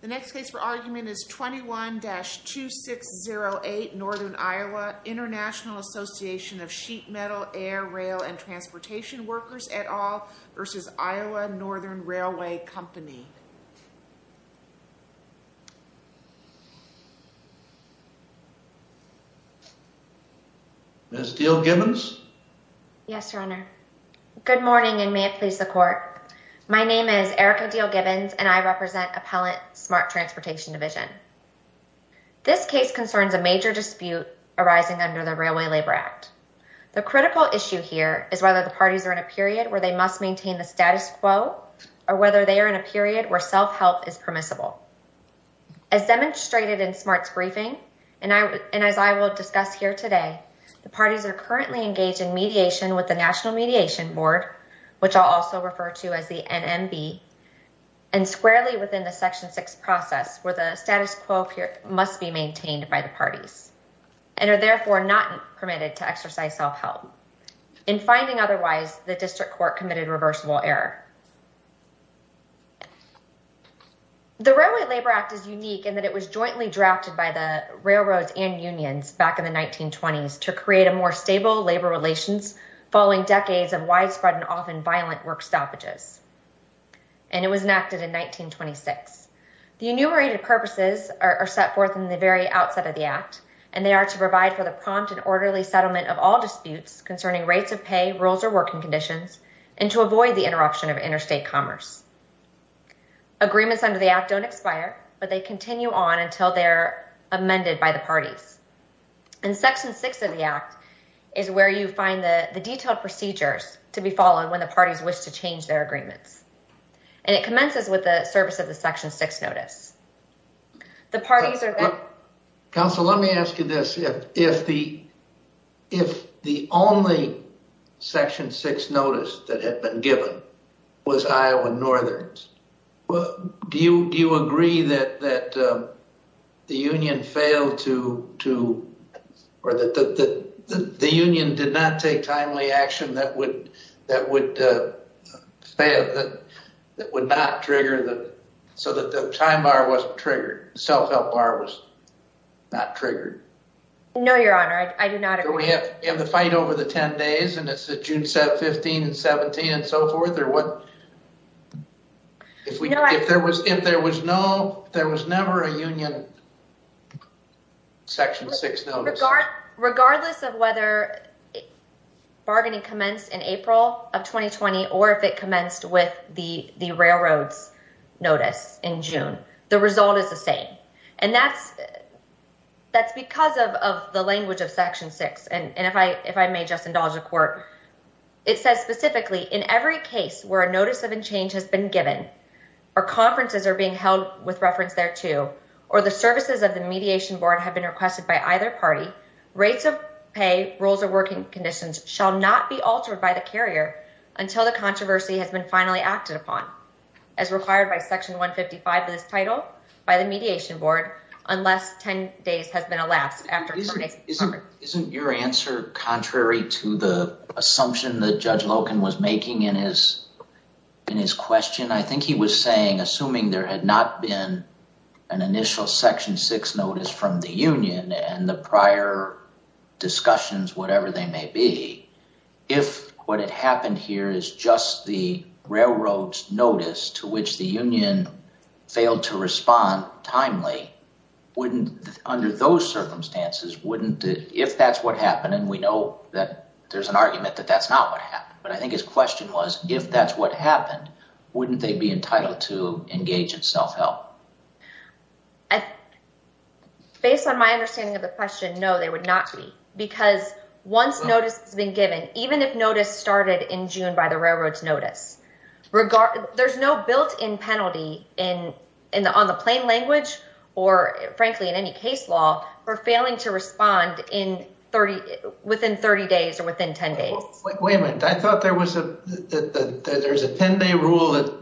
The next case for argument is 21-2608 Northern Iowa International Association of Sheet Metal, Air, Rail & Transportation Workers et al v. Iowa Northern Railway Company. Ms. Diehl-Gibbons? Yes, your honor. Good morning and may it please the court. My name is Erica Diehl-Gibbons and I represent Appellant Smart Transportation Division. This case concerns a major dispute arising under the Railway Labor Act. The critical issue here is whether the parties are in a period where they must maintain the status quo or whether they are in a period where self-help is permissible. As demonstrated in Smart's briefing and as I will discuss here today, the parties are currently engaged in mediation with the National Board, which I'll also refer to as the NMB, and squarely within the Section 6 process where the status quo must be maintained by the parties and are therefore not permitted to exercise self-help. In finding otherwise, the district court committed reversible error. The Railway Labor Act is unique in that it was jointly drafted by the railroads and unions back in the 1920s to create a more stable labor relations following decades of widespread and often violent work stoppages and it was enacted in 1926. The enumerated purposes are set forth in the very outset of the act and they are to provide for the prompt and orderly settlement of all disputes concerning rates of pay, rules, or working conditions and to avoid the interruption of interstate commerce. Agreements under the act don't expire but they continue on until they're in effect. Section 6 of the act is where you find the detailed procedures to be followed when the parties wish to change their agreements and it commences with the service of the Section 6 notice. Counsel, let me ask you this. If the only Section 6 notice that had been given was Iowa Northerns, do you agree that the union did not take timely action that would not trigger, so that the time bar wasn't triggered, the self-help bar was not triggered? No, your honor, I do not agree. We have the fight over the 10 days and it's the June 15 and 17 and so forth or what? If there was no, there was never a union Section 6 notice. Regardless of whether bargaining commenced in April of 2020 or if it commenced with the railroads notice in June, the result is the same and that's because of the language of Section 6 and if I may just indulge the court, it says specifically in every case where a notice of a change has been given or conferences are being held with reference thereto or the services of the mediation board have been requested by either party, rates of pay, rules of working conditions shall not be altered by the carrier until the controversy has been finally acted upon as required by Section 155 of this title by the mediation board unless 10 days has been elapsed. Isn't your answer contrary to the assumption that Judge Loken was making in his question? I think he was saying, assuming there had not been an initial Section 6 notice from the union and the prior discussions, whatever they may be, if what had happened here is just the if that's what happened and we know that there's an argument that that's not what happened, but I think his question was if that's what happened, wouldn't they be entitled to engage in self-help? Based on my understanding of the question, no they would not be because once notice has been given, even if notice started in June by the railroads notice, there's no built-in penalty on the plain language or frankly in any case law for failing to respond within 30 days or within 10 days. Wait a minute, I thought there was a there's a 10-day rule that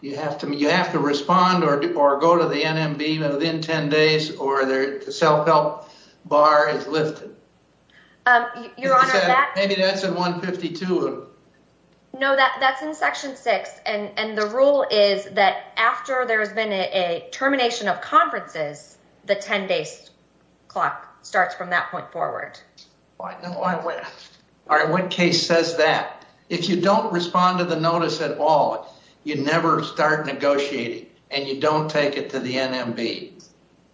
you have to you have to respond or go to the NMB within 10 days or their self-help bar is lifted. Maybe that's in 152. No, that's in Section 6 and the rule is that after there has been a termination of conferences, the 10-day clock starts from that point forward. All right, what case says that? If you don't respond to the notice at all, you never start negotiating and you don't take it to the NMB.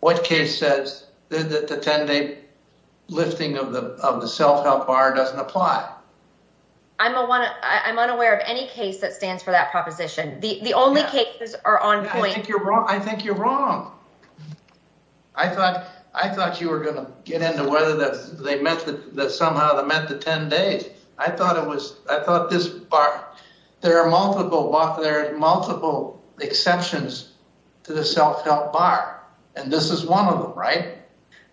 What case says that the 10-day lifting of the of the self-help bar doesn't apply? I'm unaware of any case that stands for that proposition. The only cases are on point. I think you're wrong. I thought I thought you were going to get into whether that they meant that somehow that meant the 10 days. I thought it was I thought this bar there are multiple there are multiple exceptions to the self-help bar and this is one of them, right?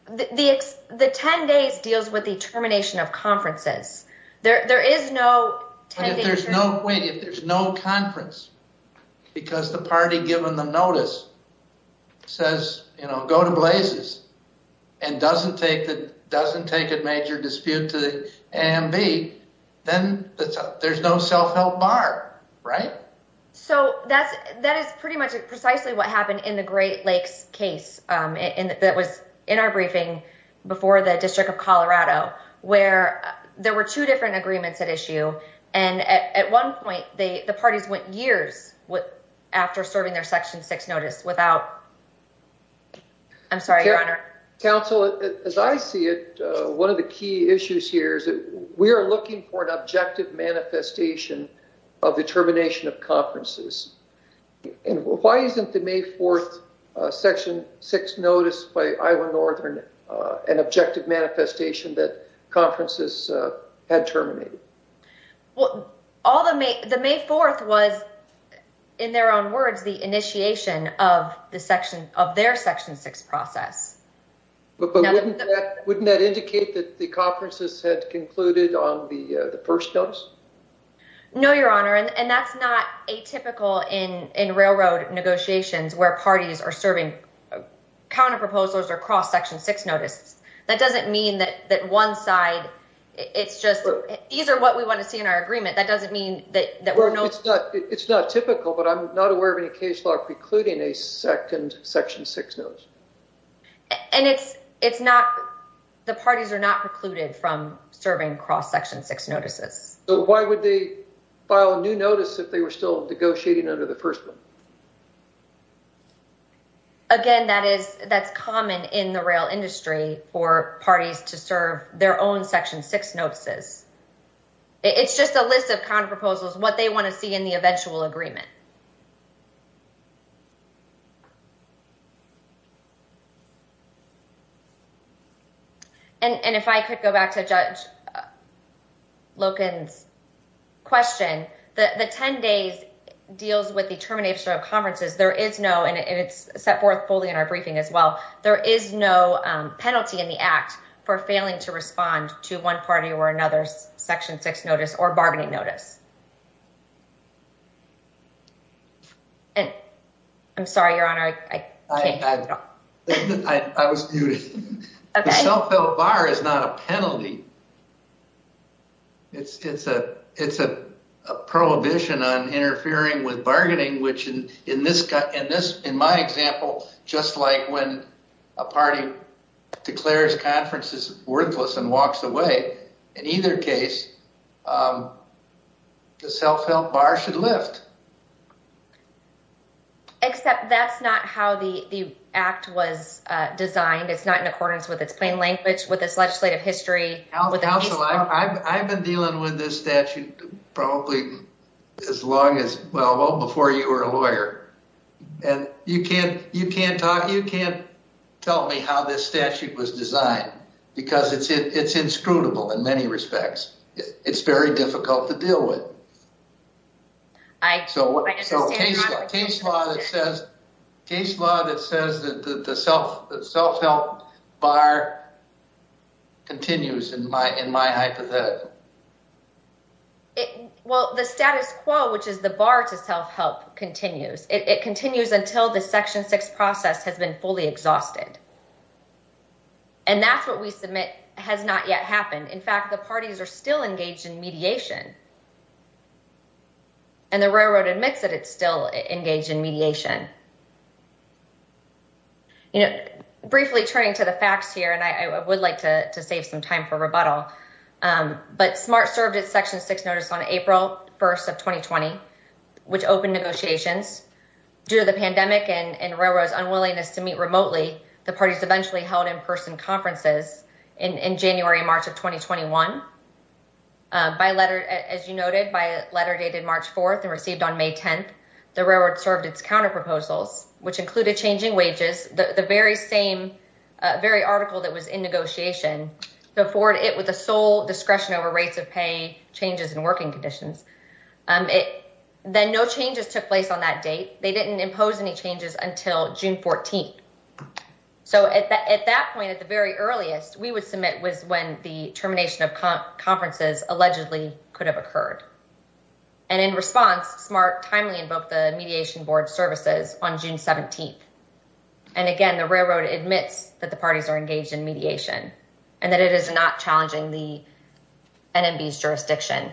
The 10 days deals with the termination of conferences. There is no 10 days. If there's no conference because the party given the notice says, you know, go to Blazes and doesn't take that doesn't take a major dispute to the NMB, then there's no self-help bar, right? So that's that is pretty much precisely what happened in Great Lakes case in that was in our briefing before the District of Colorado where there were two different agreements at issue and at one point they the parties went years with after serving their section 6 notice without. I'm sorry, your honor. Counsel, as I see it, one of the key issues here is that we are looking for an objective manifestation of the termination of conferences and why isn't the May 4th section 6 notice by Iowa Northern an objective manifestation that conferences had terminated? Well, all the May the May 4th was in their own words the initiation of the section of their section 6 process. But wouldn't that indicate that the conferences had concluded on the the first notice? No, your honor. And that's not a typical in in railroad negotiations where parties are serving counter proposals or cross section 6 notice. That doesn't mean that that one side it's just these are what we want to see in our agreement. That doesn't mean that that we're no, it's not it's not typical, but I'm not aware of any case precluding a second section 6 notice. And it's it's not the parties are not precluded from serving cross section 6 notices. So why would they file a new notice if they were still negotiating under the first one? Again, that is that's common in the rail industry for parties to serve their own section 6 notices. It's just a list of counter proposals what they want to see in the eventual agreement. And if I could go back to judge. Loken's question that the 10 days deals with the termination of conferences. There is no, and it's set forth fully in our briefing as well. There is no penalty in the act for failing to respond to one party or another section 6 notice or bargaining notice. And I'm sorry, your honor, I can't. I was muted. The self-help bar is not a penalty. It's it's a it's a prohibition on interfering with bargaining, which in this in this in my example, just like when a party declares conferences worthless and walks away in either case. The self-help bar should lift. Except that's not how the act was designed. It's not in accordance with its plain language, with its legislative history. I've been dealing with this statute probably as long as well before you were a lawyer. And you can't you can't talk. You can't tell me how this statute was designed because it's it's inscrutable in many respects. It's very difficult to deal with. I so what case law that says case law that says that the self-help bar continues in my in my hypothetical. Well, the status quo, which is the bar to self-help continues. It continues until the has not yet happened. In fact, the parties are still engaged in mediation. And the railroad admits that it's still engaged in mediation. You know, briefly turning to the facts here, and I would like to save some time for rebuttal, but SMART served its section six notice on April 1st of 2020, which opened negotiations due to the pandemic and railroads unwillingness to meet remotely. The parties eventually held in-person conferences in January and March of 2021. By letter, as you noted, by letter dated March 4th and received on May 10th, the railroad served its counter proposals, which included changing wages, the very same very article that was in negotiation before it with a sole discretion over rates of pay, changes in working conditions. Then no changes took place on that date. They very earliest we would submit was when the termination of conferences allegedly could have occurred. And in response, SMART timely invoked the mediation board services on June 17th. And again, the railroad admits that the parties are engaged in mediation and that it is not challenging the NMB's jurisdiction.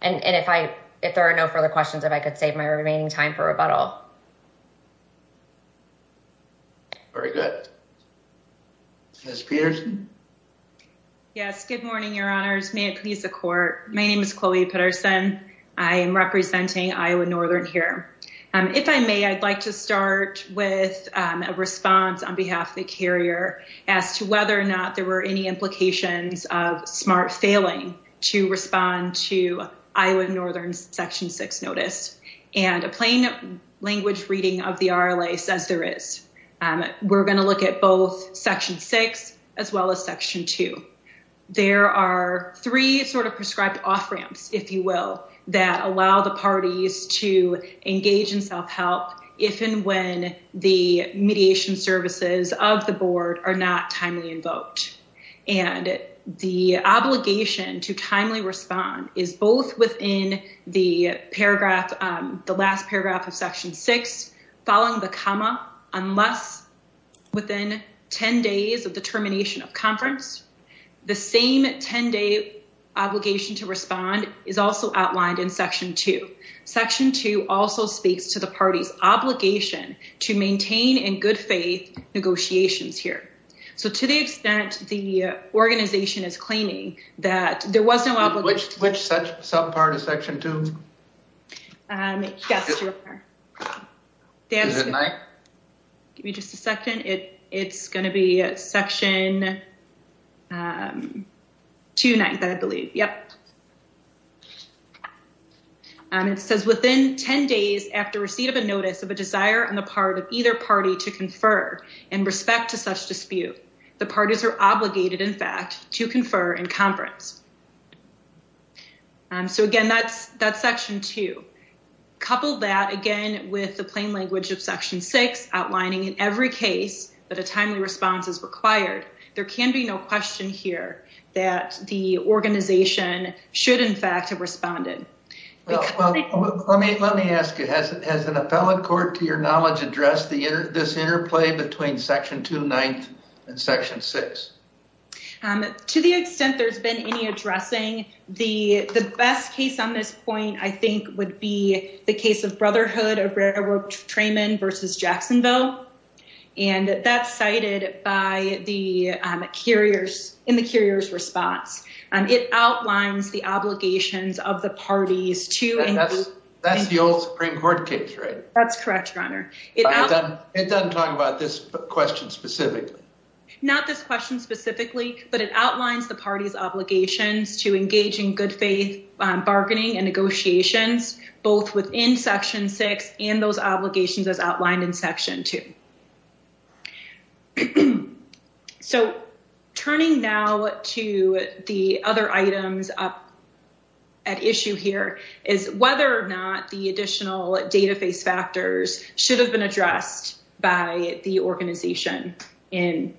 And if I if there are no further questions, if I could save my remaining time for rebuttal. Very good. Ms. Peterson? Yes. Good morning, your honors. May it please the court. My name is Chloe Peterson. I am representing Iowa Northern here. If I may, I'd like to start with a response on behalf of the carrier as to whether or not there were any implications of SMART failing to respond to Iowa Northern's section six notice. And a plain language reading of the RLA says there is. We're going to look at both section six as well as section two. There are three sort of prescribed off ramps, if you will, that allow the parties to engage in self-help if and when the mediation services of the board are not timely invoked. And the obligation to timely respond is both within the paragraph, the last paragraph of section six, following the comma, unless within 10 days of the termination of conference, the same 10 day obligation to respond is also outlined in section two. Section two also speaks to the party's obligation to maintain in good faith negotiations here. So to the extent the organization is claiming that there was no obligation. Which subpart of section two? Yes, your honor. Is it nine? Give me just a second. It's going to be section two ninth, I believe. Yep. It says within 10 days after receipt of a notice of a desire on the part of either party to confer in respect to such dispute, the parties are obligated, in fact, to confer in conference. So again, that's that section two. Couple that again with the plain language of section six outlining in every case that a timely response is required. There can be no question here that the organization should, in fact, have responded. Let me ask you, has an appellate court, to your knowledge, addressed this interplay between section two ninth and section six? To the extent there's been any addressing, the best case on this point, I think, would be the case of Brotherhood of Railroad Trayman versus Jacksonville. And that's cited by the carriers in the carrier's response. It outlines the obligations of the parties to. That's the old Supreme Court case, right? That's correct, your honor. It doesn't talk about this question specifically. Not this question specifically, but it outlines the party's obligations to engage in good faith bargaining and negotiations, both within section six and those obligations as outlined in section two. So turning now to the other items up at issue here is whether or not the additional database factors should have been addressed by the organization in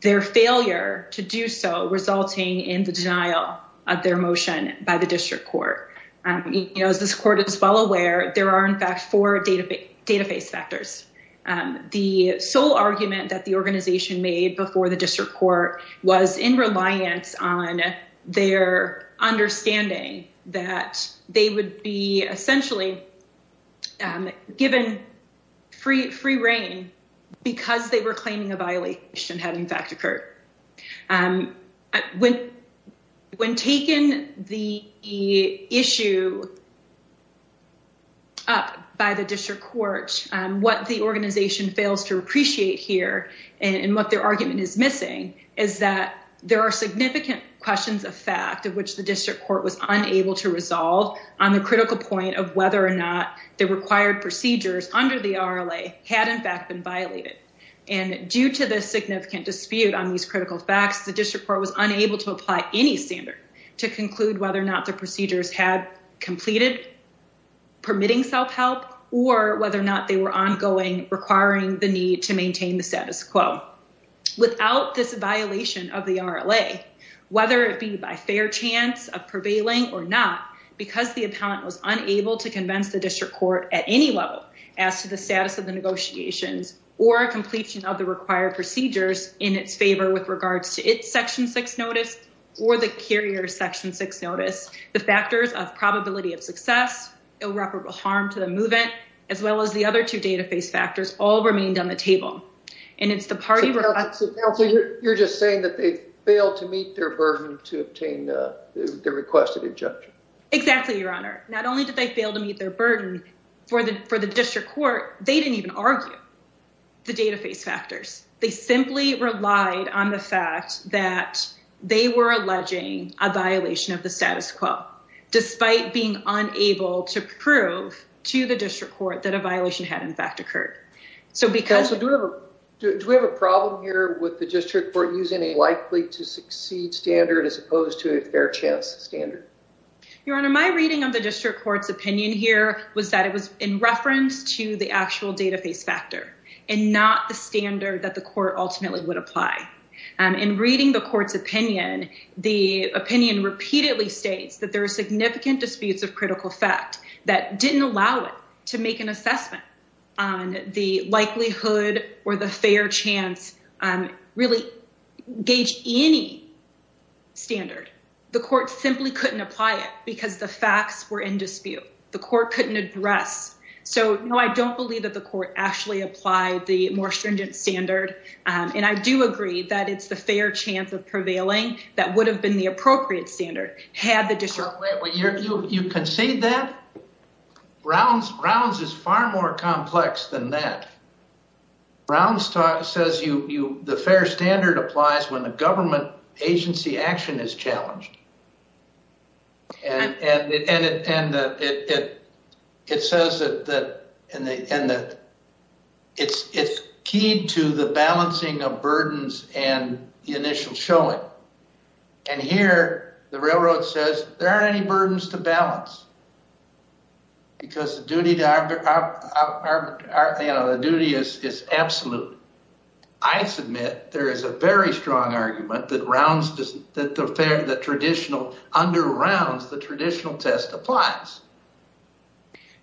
their failure to do so, resulting in the denial of their motion by the district court. As this court is well aware, there are, in fact, four database factors. The sole argument that the organization made before the district court was in reliance on their understanding that they would be essentially given free rein because they were claiming a violation had, in fact, occurred. When taken the issue up by the district court, what the organization fails to appreciate here and what their argument is missing is that there are significant questions of fact of which the district court was unable to resolve on the critical point of whether or not the required procedures under the RLA had, in fact, been violated. Due to the significant dispute on these critical facts, the district court was unable to apply any standard to conclude whether or not the procedures had completed permitting self-help or whether or not they were ongoing requiring the need to maintain the status quo. Without this violation of the RLA, whether it be by fair chance of prevailing or not, because the appellant was unable to convince the district court at any level as to the status of the negotiations or completion of the required procedures in its favor with regards to its section six notice or the carrier section six notice, the factors of probability of success, irreparable harm to the movement, as well as the other two database factors all remained on the agenda. So you're just saying that they failed to meet their burden to obtain the requested injunction? Exactly, Your Honor. Not only did they fail to meet their burden for the district court, they didn't even argue the database factors. They simply relied on the fact that they were alleging a violation of the status quo, despite being unable to prove to the district court that a problem here with the district court using a likely to succeed standard as opposed to a fair chance standard. Your Honor, my reading of the district court's opinion here was that it was in reference to the actual database factor and not the standard that the court ultimately would apply. In reading the court's opinion, the opinion repeatedly states that there are significant disputes of critical effect that didn't allow it to make an assessment on the likelihood or the fair chance, really gauge any standard. The court simply couldn't apply it because the facts were in dispute. The court couldn't address. So no, I don't believe that the court actually applied the more stringent standard. And I do agree that it's the fair chance of prevailing that would have been the appropriate standard had the district. You concede that? Brown's is far more complex than that. Brown's says the fair standard applies when the government agency action is challenged. And it says that it's keyed to the balancing of burdens and the initial showing. And here the railroad says there aren't any burdens to balance because the duty is absolute. I submit there is a very strong argument that rounds that the fair, the traditional under rounds, the traditional test applies.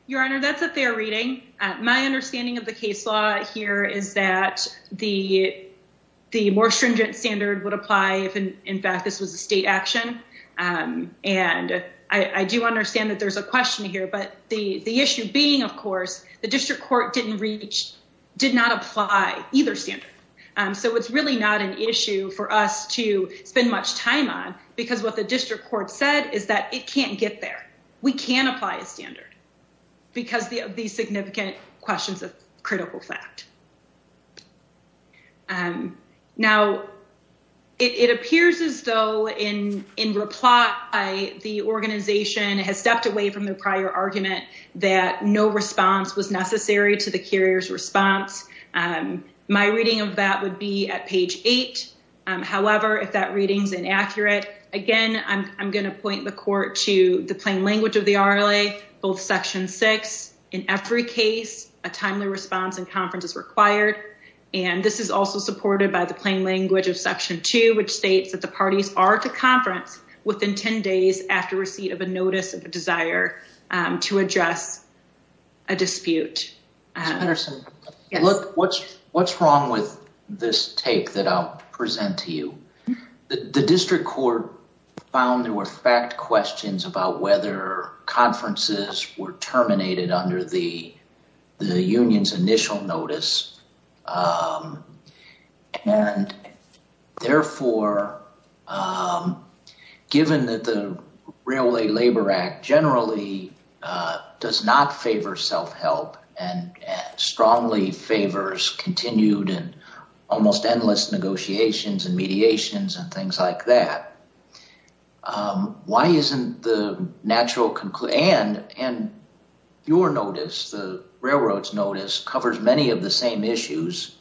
Your Honor, that's a fair reading. My understanding of the case law here is that the more stringent standard would apply if in fact this was a state action. And I do understand there's a question here, but the issue being, of course, the district court didn't reach, did not apply either standard. So it's really not an issue for us to spend much time on, because what the district court said is that it can't get there. We can apply a standard because of these significant questions of critical fact. Now, it appears as though in reply, the organization has stepped away from the prior argument that no response was necessary to the carrier's response. My reading of that would be at page eight. However, if that reading's inaccurate, again, I'm going to point the court to the plain language of the RLA, both section six, in every case, a timely response and conference is required. And this is also supported by the plain language of section two, which states that the parties are to conference within 10 days after receipt of a notice of a desire to address a dispute. Ms. Patterson, what's wrong with this take that I'll present to you? The district court found there were fact questions about whether conferences were terminated under the union's initial notice. And therefore, given that the Railway Labor Act generally does not favor self-help and strongly favors continued and almost endless negotiations and the Railroad's notice covers many of the same issues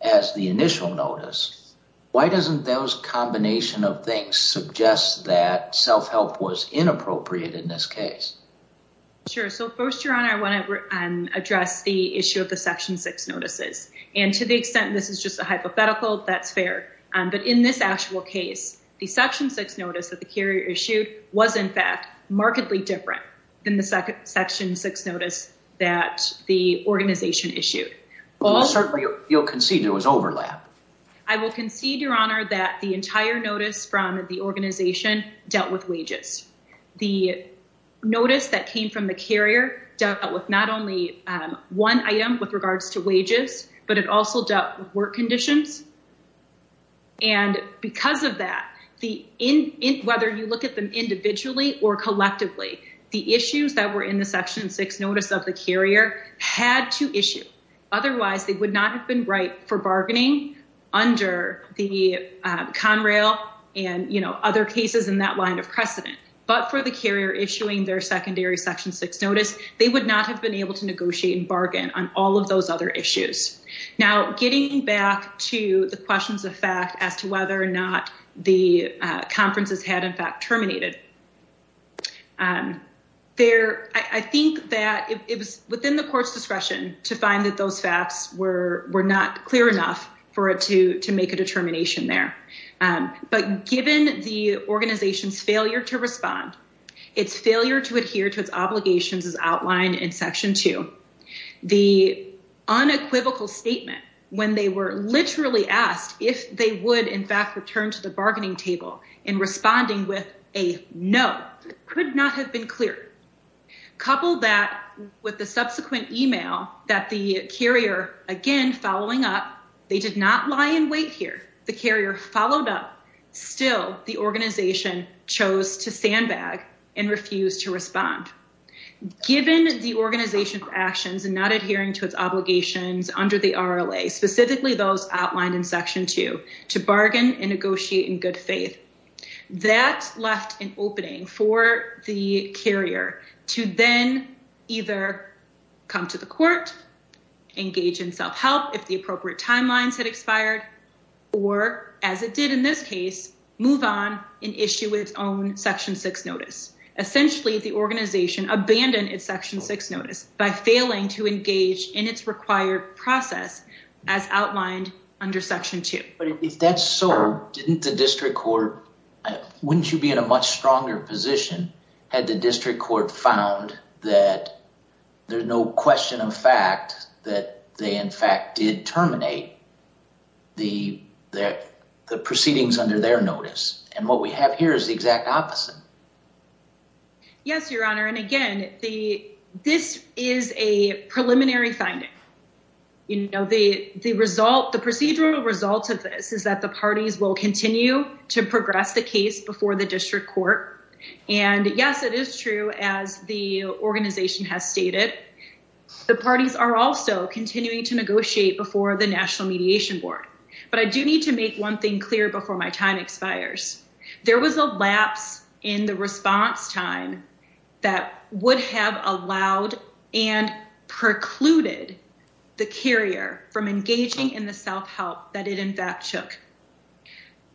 as the initial notice, why doesn't those combination of things suggest that self-help was inappropriate in this case? Sure. So first, Your Honor, I want to address the issue of the section six notices. And to the extent this is just a hypothetical, that's fair. But in this actual case, the section six notice that the carrier issued was in fact markedly different than the section six notice that the organization issued. Well, certainly you'll concede it was overlap. I will concede, Your Honor, that the entire notice from the organization dealt with wages. The notice that came from the carrier dealt with not only one item with regards to wages, but it also dealt with work conditions. And because of that, whether you look at them individually or collectively, the issues that were in the section six notice of the carrier had to issue. Otherwise, they would not have been right for bargaining under the Conrail and other cases in that line of precedent. But for the carrier issuing their secondary section six notice, they would not have been able to negotiate and bargain on all of those other issues. Now, getting back to the questions of fact as to whether or not the conferences had in fact terminated, I think that it was within the court's discretion to find that those facts were not clear enough for it to make a determination there. But given the organization's failure to respond, its failure to adhere to its obligations as outlined in section two, the unequivocal statement when they were literally asked if they would in fact return to the bargaining table in responding with a no could not have been clearer. Couple that with the subsequent email that the carrier again following up, they did not lie in wait here. The carrier followed up. Still, the organization chose to sandbag and refused to respond. Given the organization's actions and not adhering to its obligations under the RLA, specifically those outlined in section two, to bargain and negotiate in good faith, that left an opening for the carrier to then either come to the court, engage in self-help if the appropriate timelines had expired, or as it did in this case, move on and issue its own notice. Essentially, the organization abandoned its section six notice by failing to engage in its required process as outlined under section two. But if that's so, didn't the district court, wouldn't you be in a much stronger position had the district court found that there's no question of fact that they in fact did terminate the proceedings under their notice? And what we have here is the exact opposite. Yes, your honor. And again, this is a preliminary finding. The procedural result of this is that the parties will continue to progress the case before the district court. And yes, it is true as the organization has stated, the parties are also continuing to negotiate before the national mediation board. But I do need to make one clear before my time expires. There was a lapse in the response time that would have allowed and precluded the carrier from engaging in the self-help that it in fact took.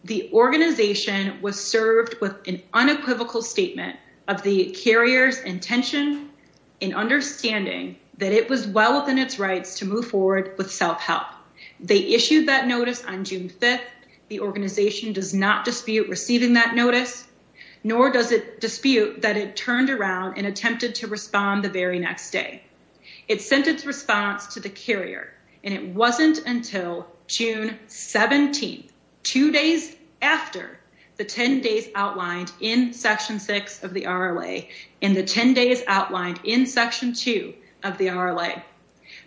The organization was served with an unequivocal statement of the carrier's intention in understanding that it was well within its rights to move forward with self-help. They organization does not dispute receiving that notice, nor does it dispute that it turned around and attempted to respond the very next day. It sent its response to the carrier and it wasn't until June 17th, two days after the 10 days outlined in section six of the RLA and the 10 days outlined in section two of the RLA.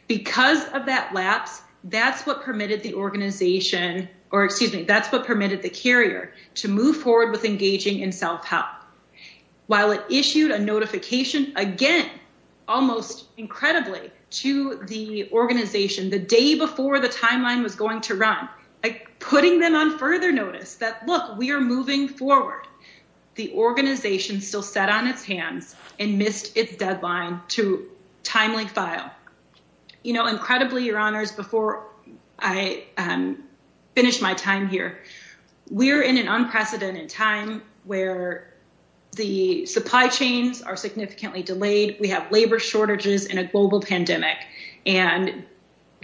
Because of that lapse, that's what permitted the organization or excuse me, that's what permitted the carrier to move forward with engaging in self-help. While it issued a notification again, almost incredibly to the organization the day before the timeline was going to run, like putting them on further notice that look, we are moving forward. The organization still sat on its hands and missed its deadline to timely file. Incredibly, your honors, before I finish my time here, we're in an unprecedented time where the supply chains are significantly delayed. We have labor shortages and a global pandemic.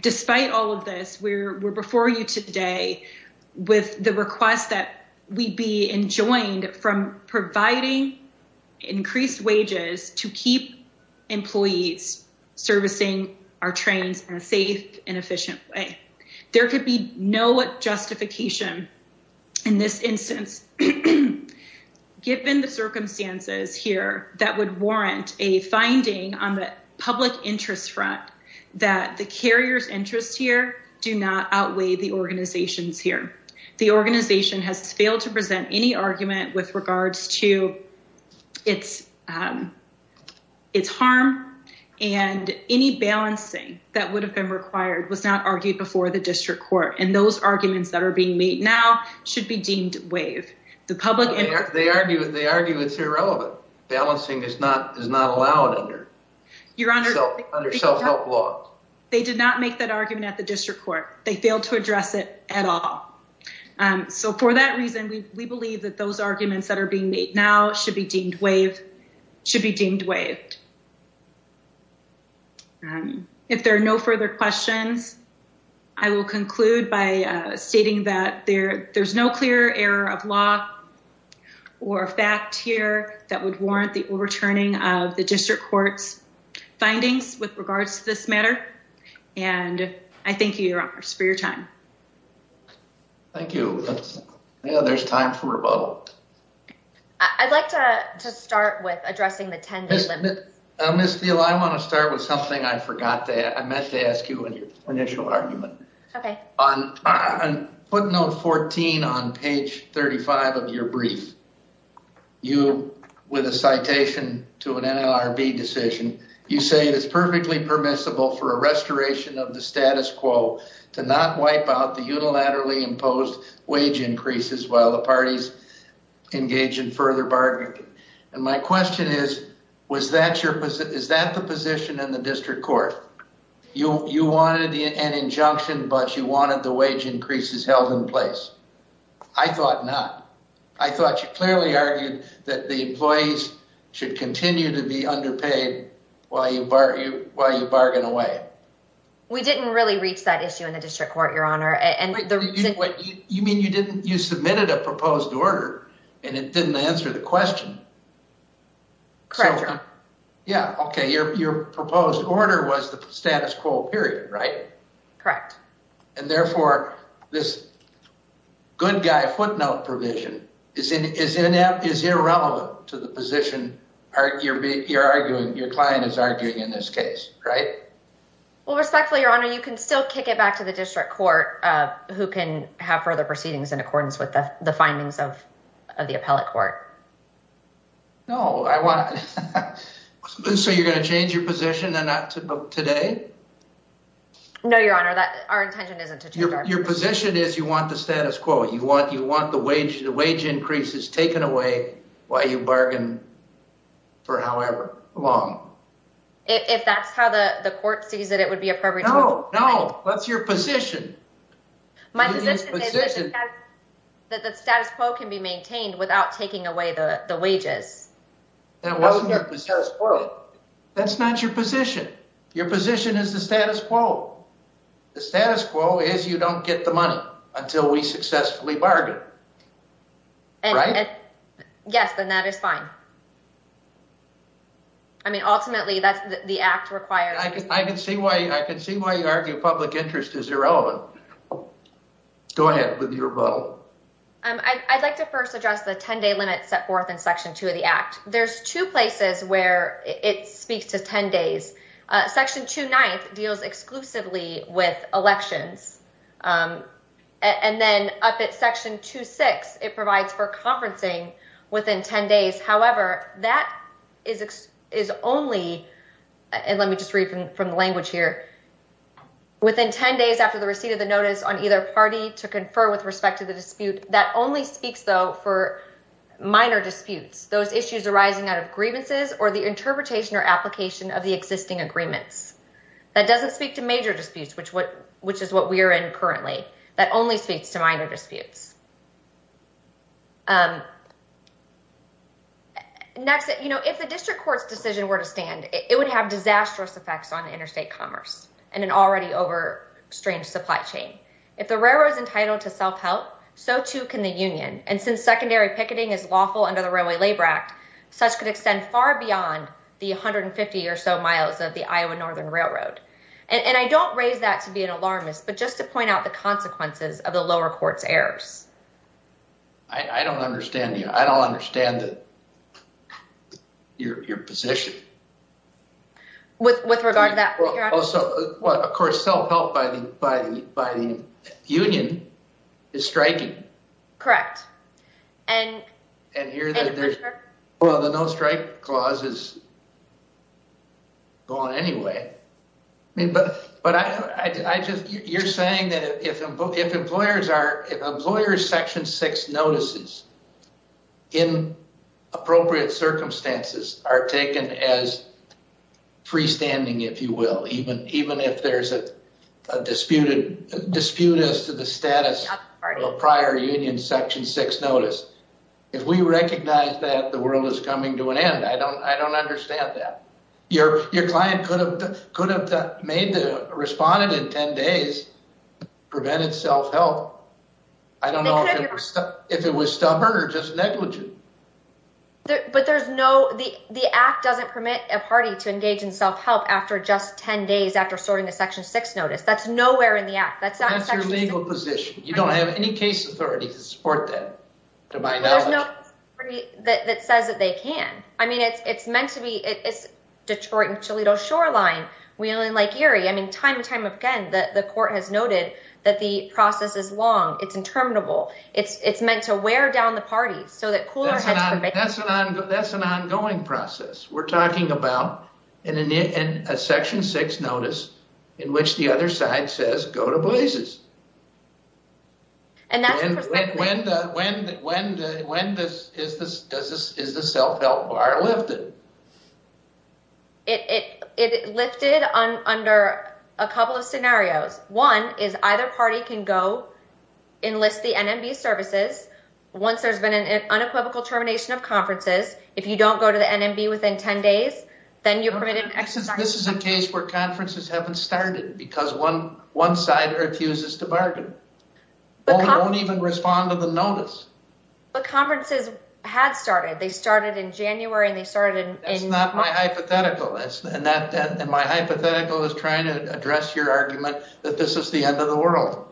Despite all of this, we're before you today with the request that we be enjoined from providing increased wages to keep employees servicing our trains in a safe and efficient way. There could be no justification in this instance, given the circumstances here that would warrant a finding on the public interest front that the carrier's interest here do not outweigh the organization's The organization has failed to present any argument with regards to its harm and any balancing that would have been required was not argued before the district court. And those arguments that are being made now should be deemed waive the public. They argue it's irrelevant. Balancing is not allowed under self-help law. They did not make that argument at the district court. They failed to address it at all. So for that reason, we believe that those arguments that are being made now should be deemed waived. If there are no further questions, I will conclude by stating that there's no clear error of law or fact here that would warrant the overturning of district court's findings with regards to this matter. And I thank you, your honors, for your time. Thank you. There's time for rebuttal. I'd like to start with addressing the 10 day limit. Ms. Thiele, I want to start with something I forgot that I meant to ask you in your initial argument. Okay. On footnote 14 on page 35 of your brief, you, with a citation to an NLRB decision, you say it is perfectly permissible for a restoration of the status quo to not wipe out the unilaterally imposed wage increases while the parties engage in further bargaining. And my but you wanted the wage increases held in place. I thought not. I thought you clearly argued that the employees should continue to be underpaid while you bargain away. We didn't really reach that issue in the district court, your honor. You mean you didn't, you submitted a proposed order and it didn't answer the question. Correct. Yeah. Okay. Your proposed order was the status quo, right? Correct. And therefore this good guy footnote provision is irrelevant to the position you're arguing, your client is arguing in this case, right? Well, respectfully, your honor, you can still kick it back to the district court who can have further proceedings in accordance with the findings of the appellate court. No, I want, so you're going to change position today? No, your honor, our intention isn't to change our position. Your position is you want the status quo, you want the wage increases taken away while you bargain for however long. If that's how the court sees it, it would be appropriate. No, no, that's your position. My position is that the status quo can be maintained without taking away the wages. That wasn't your position. That's not your position. Your position is the status quo. The status quo is you don't get the money until we successfully bargain. Yes, then that is fine. I mean, ultimately that's the act required. I can see why you argue public interest is irrelevant. Go ahead with your vote. I'd like to first address the 10-day limit set to the act. There's two places where it speaks to 10 days. Section 2-9 deals exclusively with elections. And then up at section 2-6, it provides for conferencing within 10 days. However, that is only, and let me just read from the language here, within 10 days after the receipt of the notice on either party to confer with respect to the dispute, that only speaks though for minor disputes, those issues arising out of grievances or the interpretation or application of the existing agreements. That doesn't speak to major disputes, which is what we are in currently. That only speaks to minor disputes. Next, if the district court's decision were to stand, it would have disastrous effects on interstate commerce and an already over-extrained supply If the railroad is entitled to self-help, so too can the union. And since secondary picketing is lawful under the Railway Labor Act, such could extend far beyond the 150 or so miles of the Iowa Northern Railroad. And I don't raise that to be an alarmist, but just to point out the consequences of the lower court's errors. I don't understand you. I don't understand the, your position. With regard to that? Well, of course, self-help by the union is striking. Correct. And here, well, the no strike clause is gone anyway. I mean, but I just, you're saying that if employers are, if employers section six notices in appropriate circumstances are taken as freestanding, if you will, even, even if there's a disputed dispute as to the status of a prior union section six notice. If we recognize that the world is coming to an end, I don't, I don't prevent it. Self-help. I don't know if it was stubborn or just negligent. But there's no, the, the act doesn't permit a party to engage in self-help after just 10 days after sorting a section six notice. That's nowhere in the act. That's not your legal position. You don't have any case authority to support that to my knowledge. That says that they can. I mean, it's, it's meant to be, it's Detroit and Toledo shoreline. We only like Erie. I mean, time and court has noted that the process is long. It's interminable. It's, it's meant to wear down the party so that cooler heads. That's an ongoing process. We're talking about in a new, in a section six notice in which the other side says go to blazes. And that's when, when, when, when, is this, does this, is the self-help bar lifted? It lifted on under a couple of scenarios. One is either party can go enlist the NMB services. Once there's been an unequivocal termination of conferences, if you don't go to the NMB within 10 days, then you're permitted. This is a case where conferences haven't started because one, one side refuses to bargain. Don't even respond to the notice, but conferences had started. They started in January and they started in my hypothetical is, and that, and my hypothetical is trying to address your argument that this is the end of the world.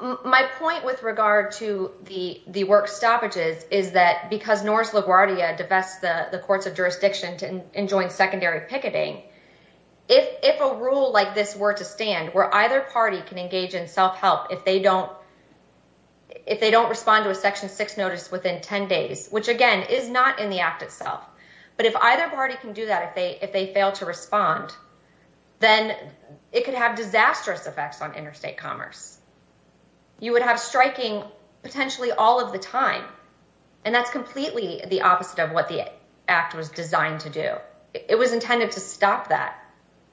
My point with regard to the, the work stoppages is that because Norris LaGuardia divest the courts of jurisdiction to enjoy secondary picketing. If, if a rule like this were to stand where either party can engage in self-help, if they don't, if they don't respond to a section six notice within 10 days, which again is not in the act itself, but if either party can do that, if they, if they fail to respond, then it could have disastrous effects on interstate commerce. You would have striking potentially all of the time. And that's completely the opposite of what the act was designed to do. It was intended to stop that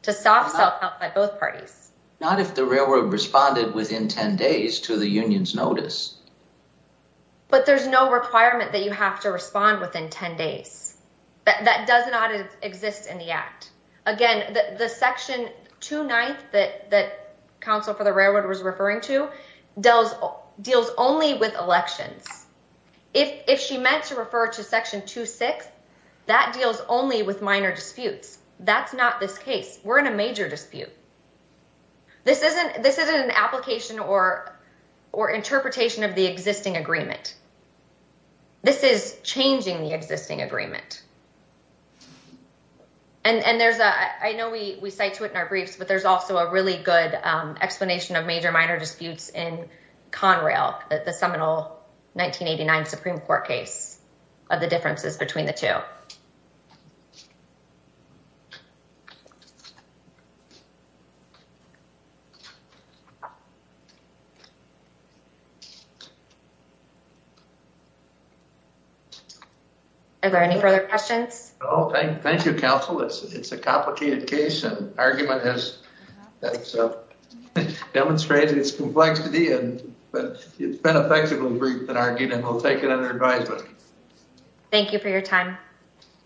to stop self-help by both parties. Not if the railroad responded within 10 days to the union's notice. But there's no requirement that you have to respond within 10 days. That does not exist in the act. Again, the section two ninth that, that council for the railroad was referring to does deals only with elections. If, if she meant to refer to section two six, that deals only with minor disputes. That's not this case. We're in a major dispute. This isn't, this isn't an application or, or interpretation of the existing agreement. This is changing the existing agreement. And, and there's a, I know we, we cite to it in our briefs, but there's also a really good explanation of major minor disputes in Conrail, the seminal 1989 Supreme court case of the differences between the two. Are there any further questions? Oh, thank you. Council. It's, it's a complicated case and argument has demonstrated its complexity and, but it's been a flexible group that argued and we'll take it under advisement. Thank you for your time.